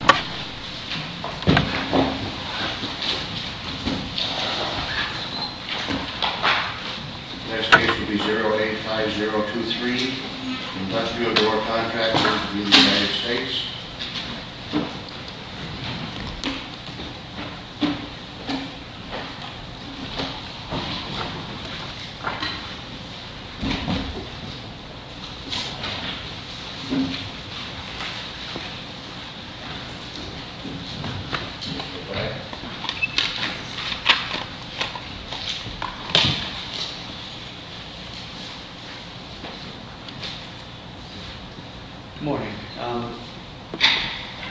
Next case will be 085023, industrial door contractor v. United States Good morning.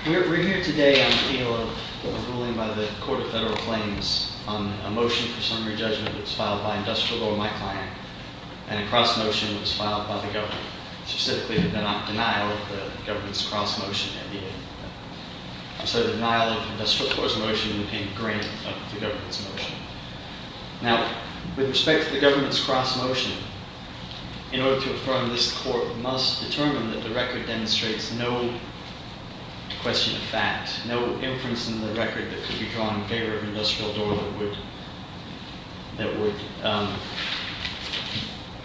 We're here today on appeal of a ruling by the Court of Federal Claims on a motion for summary judgment that was filed by Industrial Door, my client, and a cross-motion that was filed by the government, specifically the denial of the government's cross-motion. So the denial of the industrial door's motion would be a grant of the government's motion. Now, with respect to the government's cross-motion, in order to affirm this, the Court must determine that the record demonstrates no question of fact, no inference in the record that could be drawn in favor of Industrial Door that would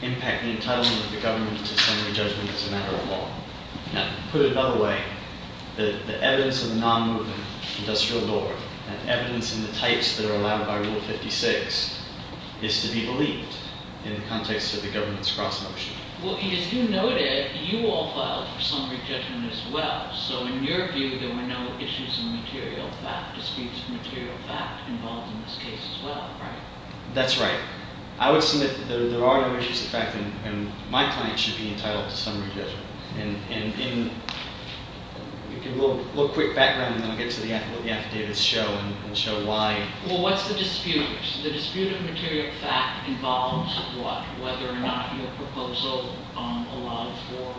impact the entitlement of the government to summary judgment as a matter of law. Now, to put it another way, the evidence of a non-moving Industrial Door and evidence in the types that are allowed by Rule 56 is to be believed in the context of the government's cross-motion. Well, as you noted, you all filed for summary judgment as well. So in your view, there were no issues of material fact, disputes of material fact involved in this case as well, right? That's right. I would submit that there are no issues of fact, and my client should be entitled to summary judgment. And in a little quick background, and then I'll get to what the affidavits show and show why. Well, what's the dispute? The dispute of material fact involves what? Whether or not your proposal allowed for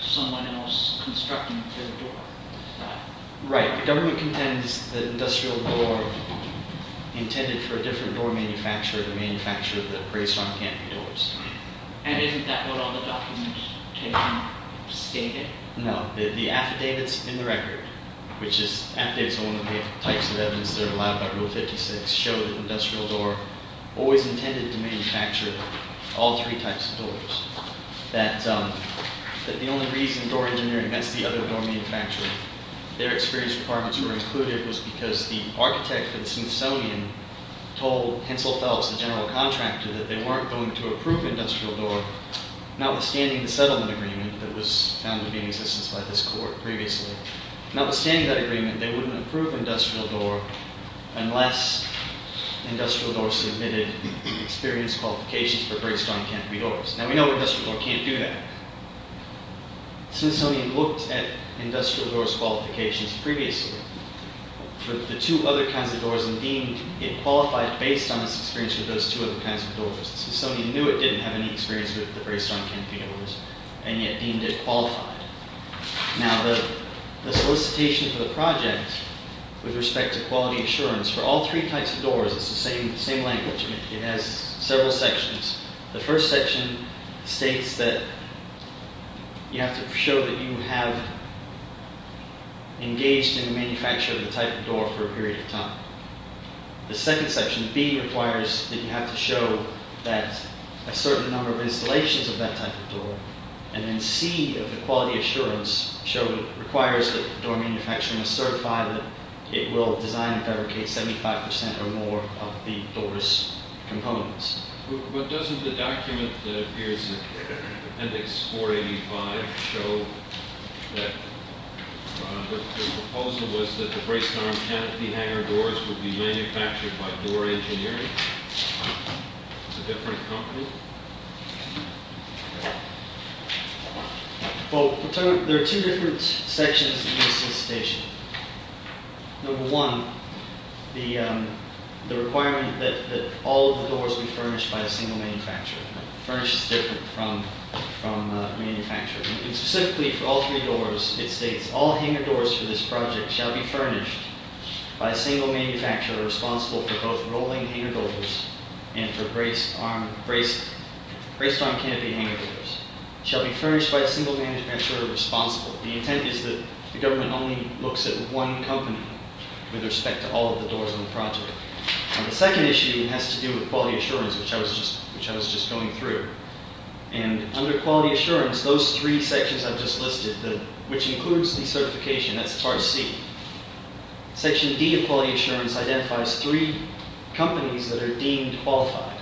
someone else constructing a third door. Right. The government contends that Industrial Door intended for a different door manufacturer to manufacture the braced-on camping doors. And isn't that what all the documents stated? No. The affidavits in the record, which is affidavits on the types of evidence that are allowed by Rule 56, show that Industrial Door always intended to manufacture all three types of doors. That the only reason door engineering, that's the other door manufacturing, their experience requirements were included was because the architect for the Smithsonian told Hensel Phelps, the general contractor, that they weren't going to approve Industrial Door, notwithstanding the settlement agreement that was found to be in existence by this court previously. Notwithstanding that agreement, they wouldn't approve Industrial Door unless Industrial Door submitted experience qualifications for braced-on camping doors. Now, we know Industrial Door can't do that. Smithsonian looked at Industrial Door's qualifications previously for the two other kinds of doors and deemed it qualified based on its experience with those two other kinds of doors. Smithsonian knew it didn't have any experience with the braced-on camping doors and yet deemed it qualified. Now, the solicitation for the project with respect to quality assurance for all three types of doors, it's the same language. It has several sections. The first section states that you have to show that you have engaged in manufacturing the type of door for a period of time. The second section, B, requires that you have to show that a certain number of installations of that type of door. And then C, of the quality assurance, requires that the door manufacturer must certify that it will design and fabricate 75% or more of the door's components. But doesn't the document that appears in appendix 485 show that the proposal was that the braced-on canopy hanger doors would be manufactured by Door Engineering, a different company? Well, there are two different sections in the solicitation. Number one, the requirement that all of the doors be furnished by a single manufacturer. Furnish is different from manufacturer. Specifically for all three doors, it states, all hanger doors for this project shall be furnished by a single manufacturer responsible for both rolling hanger doors and for braced-on canopy hanger doors. Shall be furnished by a single manufacturer responsible. The intent is that the government only looks at one company with respect to all of the doors on the project. The second issue has to do with quality assurance, which I was just going through. And under quality assurance, those three sections I've just listed, which includes the certification, that's part C. Section D of quality assurance identifies three companies that are deemed qualified.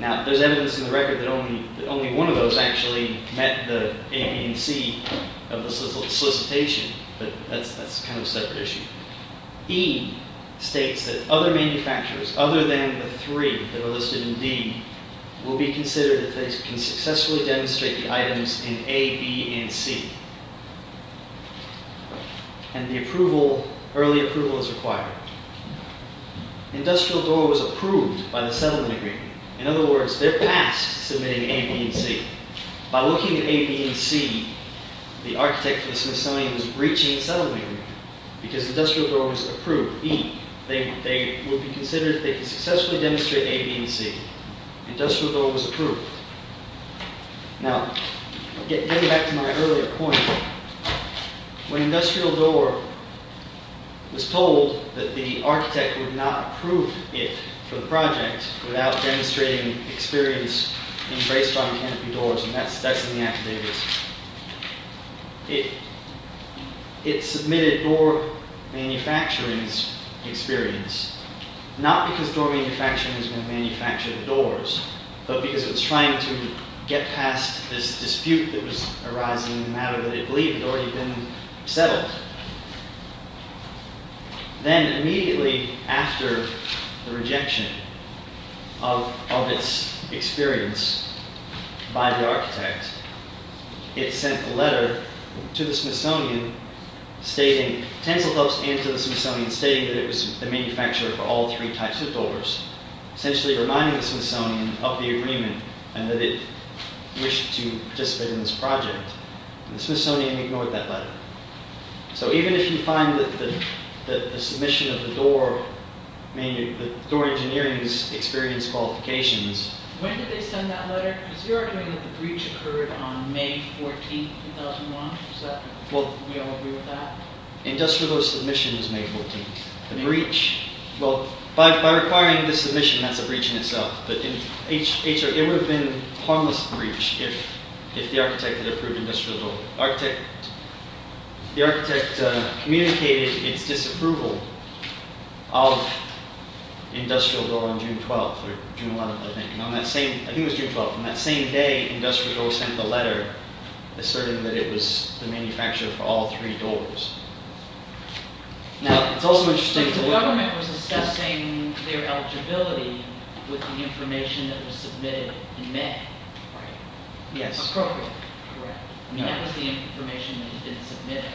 Now, there's evidence in the record that only one of those actually met the A, B, and C of the solicitation, but that's kind of a separate issue. E states that other manufacturers, other than the three that are listed in D, will be considered if they can successfully demonstrate the items in A, B, and C. And the approval, early approval is required. Industrial door was approved by the settlement agreement. In other words, they're passed submitting A, B, and C. By looking at A, B, and C, the architect of the Smithsonian was breaching the settlement agreement because industrial door was approved. E, they would be considered if they could successfully demonstrate A, B, and C. Industrial door was approved. Now, getting back to my earlier point, when industrial door was told that the architect would not approve it for the project without demonstrating experience embraced on canopy doors, and that's in the affidavits, it submitted door manufacturing's experience, not because door manufacturing was going to manufacture the doors, but because it was trying to get past this dispute that was arising in the matter that it believed had already been settled. Then, immediately after the rejection of its experience by the architect, it sent a letter to the Smithsonian stating, tens of thousands of the Smithsonian, stating that it was the manufacturer for all three types of doors, essentially reminding the Smithsonian of the agreement and that it wished to participate in this project. The Smithsonian ignored that letter. So, even if you find that the submission of the door, the door engineering's experience qualifications... When did they send that letter? Because you're arguing that the breach occurred on May 14th, 2001. Well, we all agree with that. Industrial submission was May 14th. Well, by requiring the submission, that's a breach in itself. It would have been a harmless breach if the architect had approved industrial door. The architect communicated its disapproval of industrial door on June 12th, or June 11th, I think. I think it was June 12th. On that same day, industrial door sent a letter asserting that it was the manufacturer for all three doors. Now, it's also interesting... The government was assessing their eligibility with the information that was submitted in May. Right. Yes. Appropriately. Correct. I mean, that was the information that had been submitted.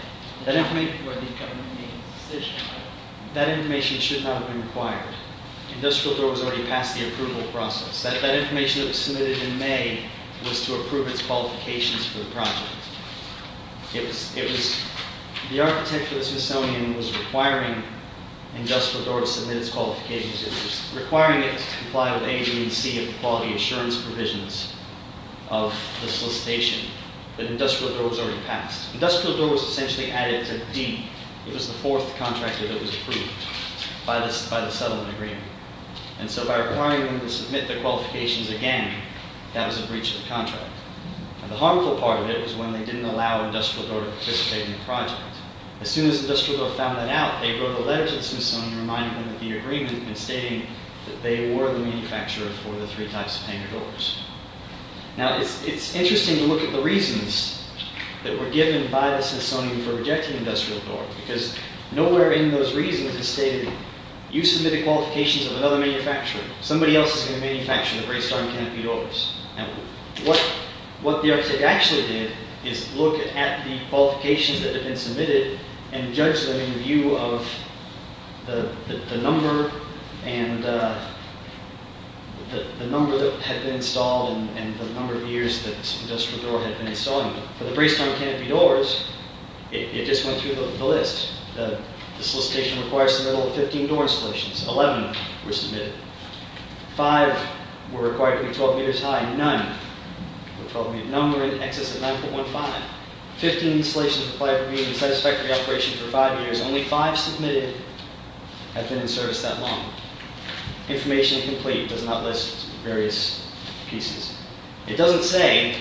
That information should not have been required. Industrial door was already past the approval process. That information that was submitted in May was to approve its qualifications for the project. It was... The architect for the Smithsonian was requiring industrial door to submit its qualifications. It was requiring it to comply with A, B, and C of the quality assurance provisions of the solicitation. But industrial door was already passed. Industrial door was essentially added to D. It was the fourth contractor that was approved by the settlement agreement. And so, by requiring them to submit their qualifications again, that was a breach of the contract. The harmful part of it was when they didn't allow industrial door to participate in the project. As soon as industrial door found that out, they wrote a letter to the Smithsonian reminding them of the agreement and stating that they were the manufacturer for the three types of painted doors. Now, it's interesting to look at the reasons that were given by the Smithsonian for rejecting industrial door because nowhere in those reasons is stated, you submitted qualifications of another manufacturer. Somebody else is going to manufacture the great star canopy doors. What the architect actually did is look at the qualifications that had been submitted and judge them in view of the number that had been installed and the number of years that industrial door had been installing them. For the great star canopy doors, it just went through the list. The solicitation requires the middle of 15 door installations. 11 were submitted. Five were required to be 12 meters high. None were in excess of 9.15. 15 installations applied for being in satisfactory operation for five years. Only five submitted have been in service that long. Information incomplete does not list various pieces. It doesn't say,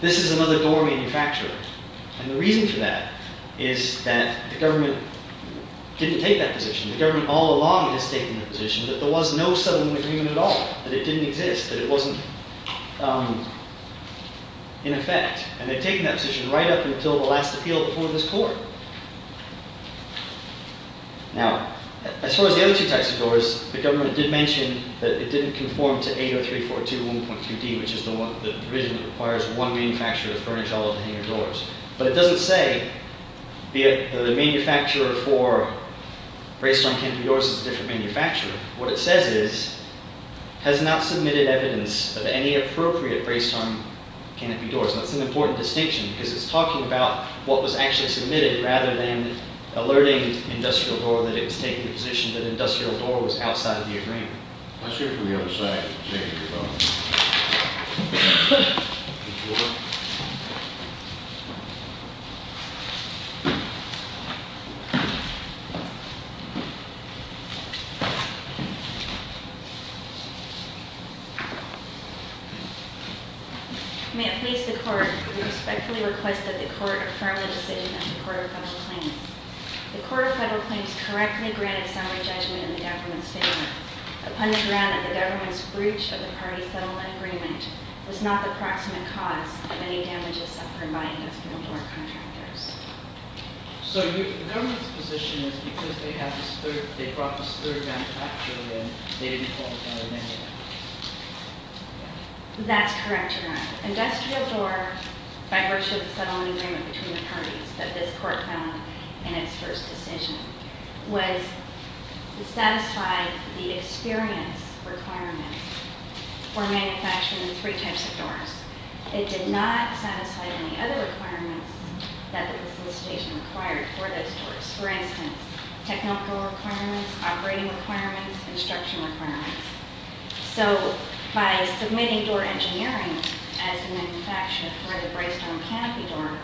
this is another door manufacturer. And the reason for that is that the government didn't take that position. The government all along has taken the position that there was no settlement agreement at all. That it didn't exist. That it wasn't in effect. And they've taken that position right up until the last appeal before this court. Now, as far as the other two types of doors, the government did mention that it didn't conform to 803421.2D, which is the provision that requires one manufacturer to furnish all of the hangar doors. But it doesn't say, the manufacturer for braced-arm canopy doors is a different manufacturer. What it says is, has not submitted evidence of any appropriate braced-arm canopy doors. That's an important distinction. Because it's talking about what was actually submitted, rather than alerting Industrial Door that it was taking the position that Industrial Door was outside of the agreement. Let's hear from the other side. Jay, you're up. May it please the court, we respectfully request that the court affirm the decision of the Court of Federal Claims. The Court of Federal Claims correctly granted salary judgment in the government's favor. It pundits around that the government's breach of the party settlement agreement was not the proximate cause of any damages suffered by Industrial Door contractors. So the government's position is because they brought this third manufacturer in, they didn't qualify in any way? That's correct, Your Honor. Industrial Door, by virtue of the settlement agreement between the parties that this court found in its first decision, was to satisfy the experience requirements for manufacturing three types of doors. It did not satisfy any other requirements that the solicitation required for those doors. For instance, technical requirements, operating requirements, construction requirements. So, by submitting door engineering as a manufacturer for the braced-arm canopy door,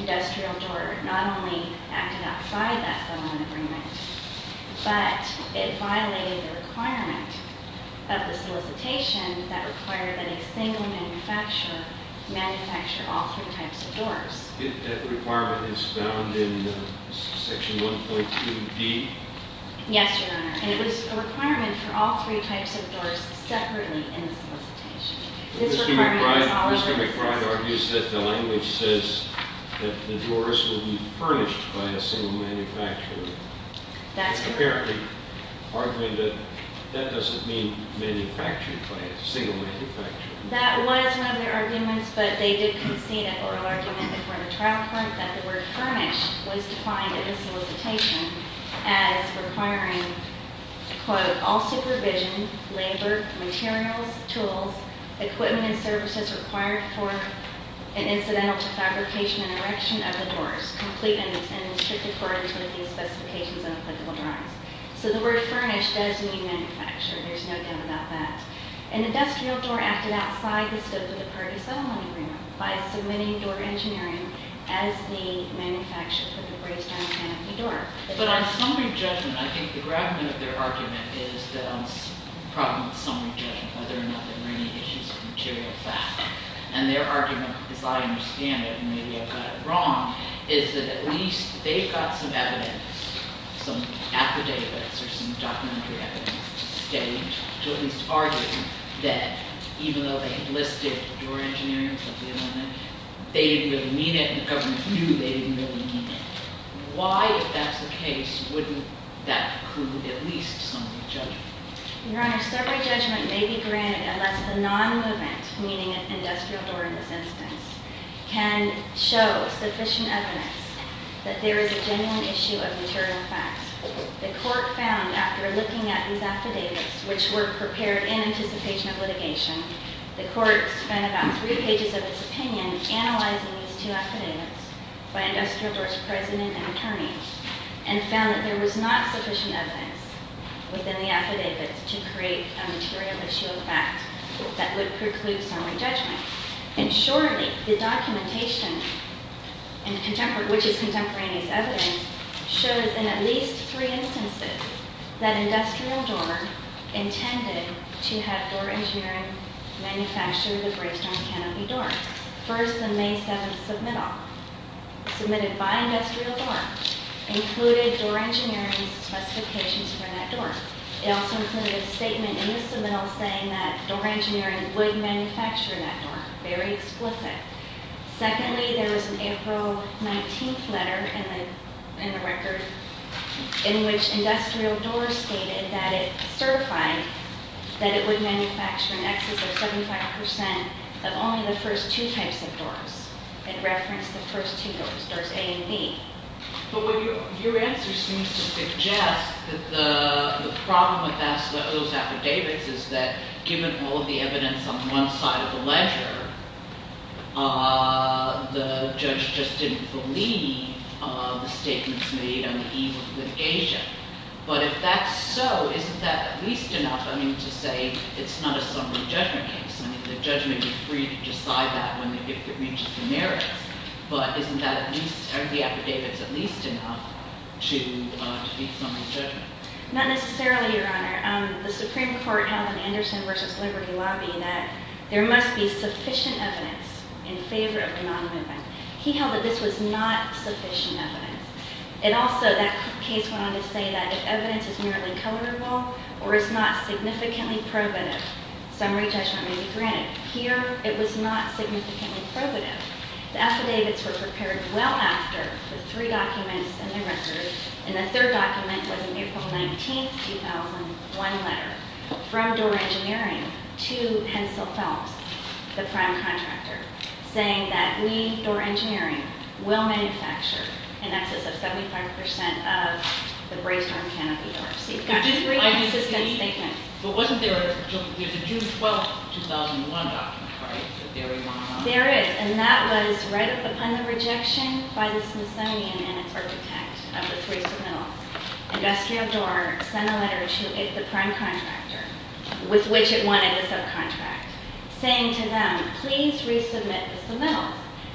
Industrial Door not only acted outside that settlement agreement, but it violated the requirement of the solicitation that required that a single manufacturer manufacture all three types of doors. That requirement is found in section 1.2b? Yes, Your Honor. And it was a requirement for all three types of doors separately in the solicitation. Mr. McBride argues that the language says that the doors will be furnished by a single manufacturer. That's correct. Apparently arguing that that doesn't mean manufactured by a single manufacturer. That was one of their arguments, but they did concede an oral argument before the trial court that the word furnished was defined in the solicitation as requiring, quote, all supervision, labor, materials, tools, equipment, and services required for an incidental defabrication and erection of the doors, complete and in strict accordance with the specifications of applicable drawings. So, the word furnished doesn't mean manufactured. There's no doubt about that. And Industrial Door acted outside the scope of the party settlement agreement by submitting door engineering as the manufacturer for the braced-arm canopy door. But on summary judgment, I think the gravity of their argument is that on the problem of summary judgment, whether or not there were any issues of material fact. And their argument, as I understand it, and maybe I've got it wrong, is that at least they've got some evidence, some affidavits or some documentary evidence to state, to at least argue that even though they listed door engineering as the element, they didn't really mean it and the government knew they didn't really mean it. Why, if that's the case, wouldn't that prove at least summary judgment? Your Honor, summary judgment may be granted unless the non-movement, meaning Industrial Door in this instance, can show sufficient evidence that there is a genuine issue of material facts. The court found, after looking at these affidavits, which were prepared in anticipation of litigation, the court spent about three pages of its opinion analyzing these two affidavits by Industrial Door's president and attorney and found that there was not sufficient evidence within the affidavits to create a material issue of fact that would preclude summary judgment. And surely the documentation, which is contemporaneous evidence, shows in at least three instances that Industrial Door intended to have door engineering manufacture the Bravestone Canopy Door. First, the May 7th submittal, submitted by Industrial Door, included door engineering's specifications for that door. It also included a statement in the submittal saying that door engineering would manufacture that door. Very explicit. Secondly, there was an April 19th letter in the record in which Industrial Door stated that it certified that it would manufacture an excess of 75% of only the first two types of doors. It referenced the first two doors, doors A and B. But your answer seems to suggest that the problem with those affidavits is that given all the evidence on one side of the ledger, the judge just didn't believe the statements made on the eve of litigation. But if that's so, isn't that at least enough, I mean, to say it's not a summary judgment case? I mean, the judgment would be free to decide that when it reaches the merits. But isn't that at least, are the affidavits at least enough to defeat summary judgment? Not necessarily, Your Honor. The Supreme Court held in the Anderson versus Liberty lobby that there must be sufficient evidence in favor of the non-movement. He held that this was not sufficient evidence. It also, that case went on to say that if evidence is merely colorable or is not significantly probative, summary judgment may be granted. Here, it was not significantly probative. The affidavits were prepared well after the three documents in the record, and the third document was an April 19th, 2001 letter from Door Engineering to Hensel Phelps, the prime contractor, saying that we, Door Engineering, will manufacture in excess of 75% of the brazed-arm canopy doors. You've got three consistent statements. But wasn't there a, there's a June 12th, 2001 document, right? There is, and that was right upon the rejection by the Smithsonian and its architect of the three submittals. Industrial Door sent a letter to the prime contractor, with which it wanted a subcontract, saying to them, please resubmit the submittals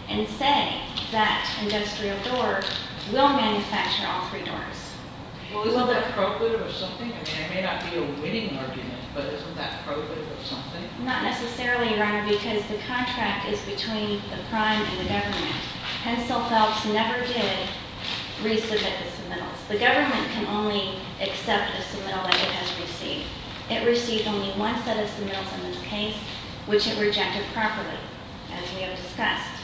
and say that Industrial Door will manufacture all three doors. Well, isn't that probative of something? I mean, it may not be a winning argument, but isn't that probative of something? Not necessarily, Your Honor, because the contract is between the prime and the government. Hensel Phelps never did resubmit the submittals. The government can only accept a submittal that it has received. It received only one set of submittals in this case, which it rejected properly, as we have discussed.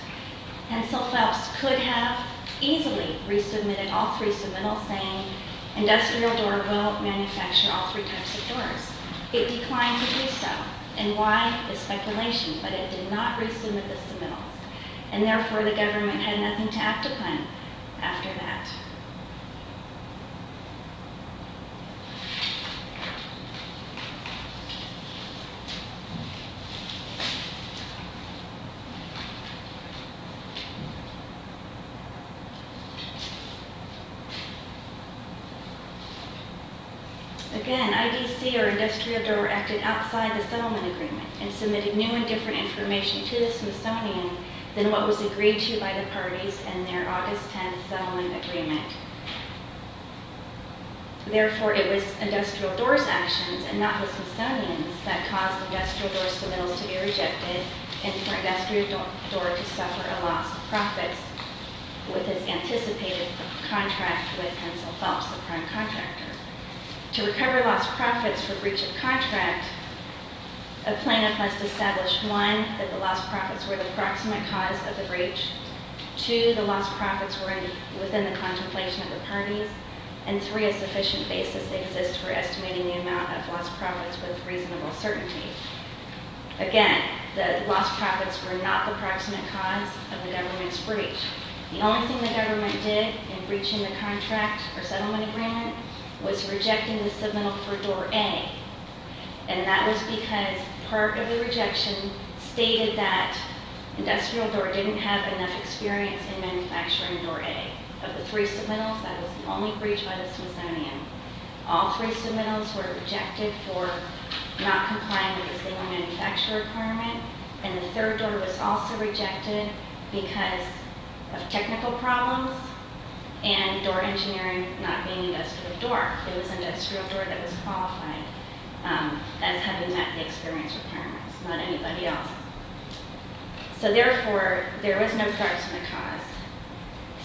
Hensel Phelps could have easily resubmitted all three submittals, saying Industrial Door will manufacture all three types of doors. It declined to do so. And why? The speculation. But it did not resubmit the submittals. And therefore, the government had nothing to act upon after that. Again, IDC or Industrial Door acted outside the settlement agreement and submitted new and different information to the Smithsonian than what was agreed to by the parties in their August 10th settlement agreement. Therefore, it was Industrial Door's actions and not the Smithsonian's that caused Industrial Door's submittals to be rejected and for Industrial Door to suffer a loss of profits with its anticipated contract with Hensel Phelps, the prime contractor. To recover lost profits for breach of contract, a plaintiff must establish, one, that the lost profits were the proximate cause of the breach. Two, the lost profits were within the contemplation of the parties. And three, a sufficient basis exists for estimating the amount of lost profits with reasonable certainty. Again, the lost profits were not the proximate cause of the government's breach. The only thing the government did in breaching the contract or settlement agreement was rejecting the submittal for Door A. And that was because part of the rejection stated that Industrial Door didn't have enough experience in manufacturing Door A. Of the three submittals, that was the only breach by the Smithsonian. All three submittals were rejected for not complying with a single manufacturer requirement. And the third door was also rejected because of technical problems and Door Engineering not being Industrial Door. It was Industrial Door that was qualified as having met the experience requirements, not anybody else. So therefore, there was no proximate cause.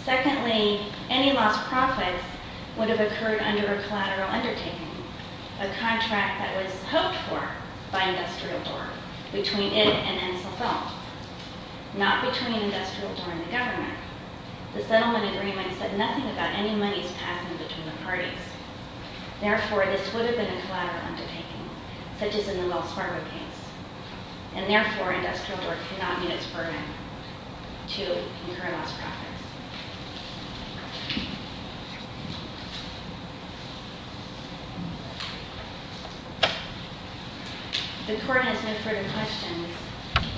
Secondly, any lost profits would have occurred under a collateral undertaking, a contract that was hoped for by Industrial Door, between it and Hensel Phelps. Not between Industrial Door and the government. The settlement agreement said nothing about any monies passing between the parties. Therefore, this would have been a collateral undertaking, such as in the Wells Fargo case. And therefore, Industrial Door could not meet its burden to incur lost profits. If the court has no further questions,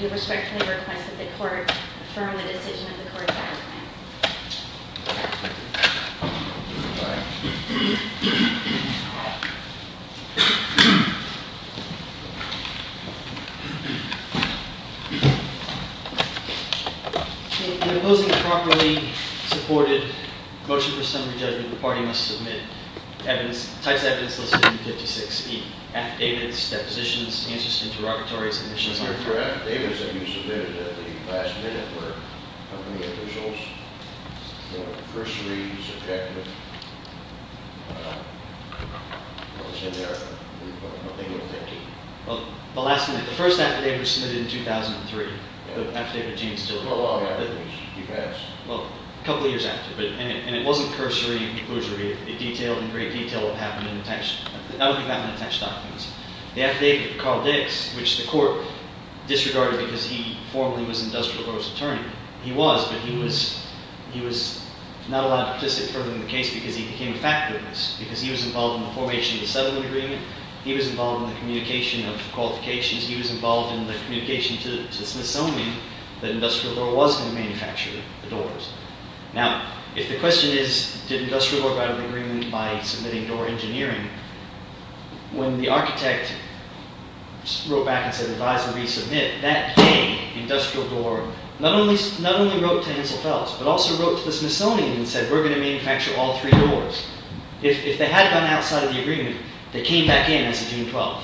we respectfully request that the court affirm the decision of the court. Thank you. In opposing a properly supported motion for summary judgment, the party must submit types of evidence listed in 56E. Affidavits, depositions, answers to interrogatories, admissions- The affidavits that you submitted at the last minute were company officials, cursory, subjective. The first affidavit was submitted in 2003. The affidavit of James Tillery. Well, a couple of years after. And it wasn't cursory, it detailed in great detail what happened in the text. That would be back in the text documents. The affidavit of Carl Dix, which the court disregarded because he formally was Industrial Door's attorney. He was, but he was not allowed to participate further in the case because he became a fact witness. Because he was involved in the formation of the settlement agreement. He was involved in the communication of qualifications. He was involved in the communication to Smithsonian that Industrial Door was going to manufacture the doors. Now, if the question is, did Industrial Door write an agreement by submitting door engineering, when the architect wrote back and said, advise and resubmit, that came. Industrial Door not only wrote to Hensel Phelps, but also wrote to the Smithsonian and said, we're going to manufacture all three doors. If they had gone outside of the agreement, they came back in as of June 12th.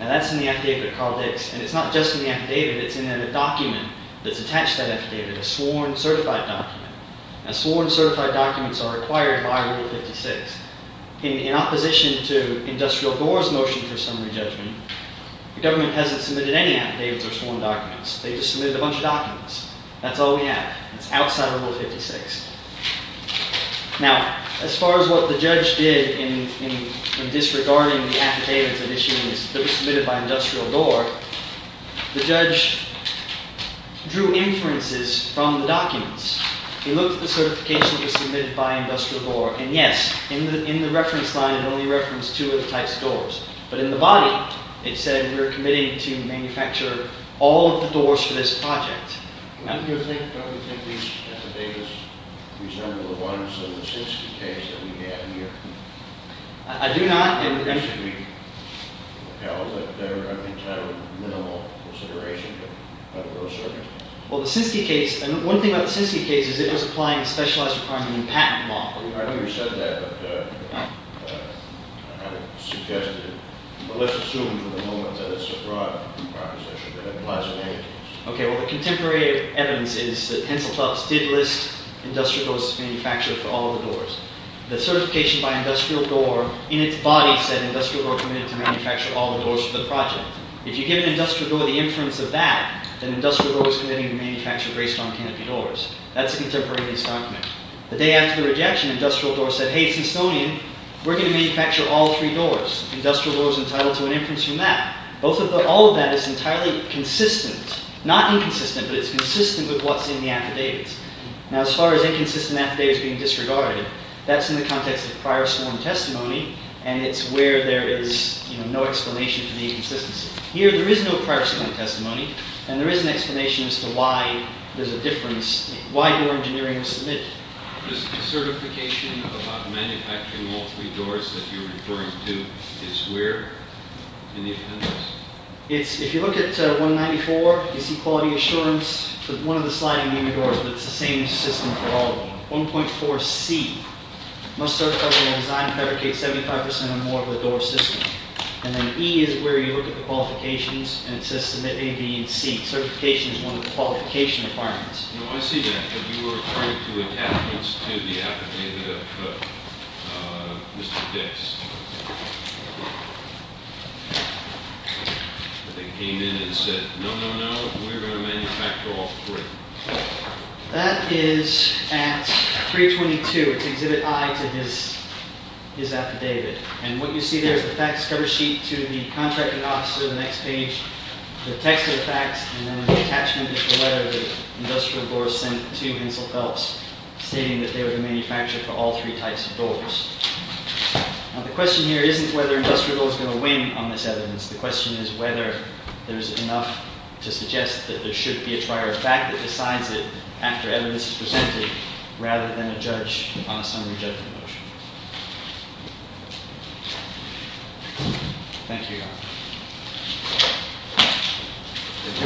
And that's in the affidavit of Carl Dix. And it's not just in the affidavit, it's in a document that's attached to that affidavit. A sworn certified document. Now, sworn certified documents are required by Rule 56. In opposition to Industrial Door's motion for summary judgment, the government hasn't submitted any affidavits or sworn documents. They just submitted a bunch of documents. That's all we have. It's outside of Rule 56. Now, as far as what the judge did in disregarding the affidavits that were submitted by Industrial Door, the judge drew inferences from the documents. He looked at the certification that was submitted by Industrial Door. And, yes, in the reference line, it only referenced two of the types of doors. But in the body, it said, we're committing to manufacture all of the doors for this project. Do you think these affidavits resemble the ones in the Sinsky case that we had here? I do not. And should we repel that? I think it's not a minimal consideration, but we're asserting. Well, the Sinksy case, and one thing about the Sinksy case is it was applying a specialized requirement in patent law. I know you said that, but I haven't suggested it. But let's assume from the moment that it's a broad proposition that it applies to many doors. Okay. Well, the contemporary evidence is that pencil clubs did list Industrial Door's manufacture for all of the doors. The certification by Industrial Door in its body said Industrial Door committed to manufacture all the doors for the project. If you give Industrial Door the inference of that, then Industrial Door was committing to manufacture based on canopy doors. That's a contemporaneous document. The day after the rejection, Industrial Door said, hey, it's Estonian. We're going to manufacture all three doors. Industrial Door was entitled to an inference from that. All of that is entirely consistent. Not inconsistent, but it's consistent with what's in the affidavits. Now, as far as inconsistent affidavits being disregarded, that's in the context of prior sworn testimony. And it's where there is no explanation for the inconsistency. Here, there is no prior sworn testimony. And there is an explanation as to why there's a difference, why door engineering was submitted. The certification about manufacturing all three doors that you're referring to is where in the affidavits? If you look at 194, you see quality assurance. One of the sliding doors, but it's the same system for all of them. 1.4C, must certify the design and fabricate 75% or more of the door system. And then E is where you look at the qualifications, and it says submit A, B, and C. Certification is one of the qualification requirements. I see that, but you were referring to attachments to the affidavit of Mr. Dix. They came in and said, no, no, no, we're going to manufacture all three. That is at 322. It's exhibit I to his affidavit. And what you see there is the facts cover sheet to the contracting officer, the next page, the text of the facts, and then the attachment is the letter that industrial doors sent to Hensel Phelps, stating that they were to manufacture for all three types of doors. Now, the question here isn't whether industrial doors are going to win on this evidence. The question is whether there's enough to suggest that there should be a trier of fact that decides it after evidence is presented, rather than a judge on a summary judgment motion. Thank you,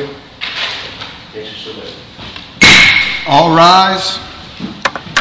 Your Honor. All rise.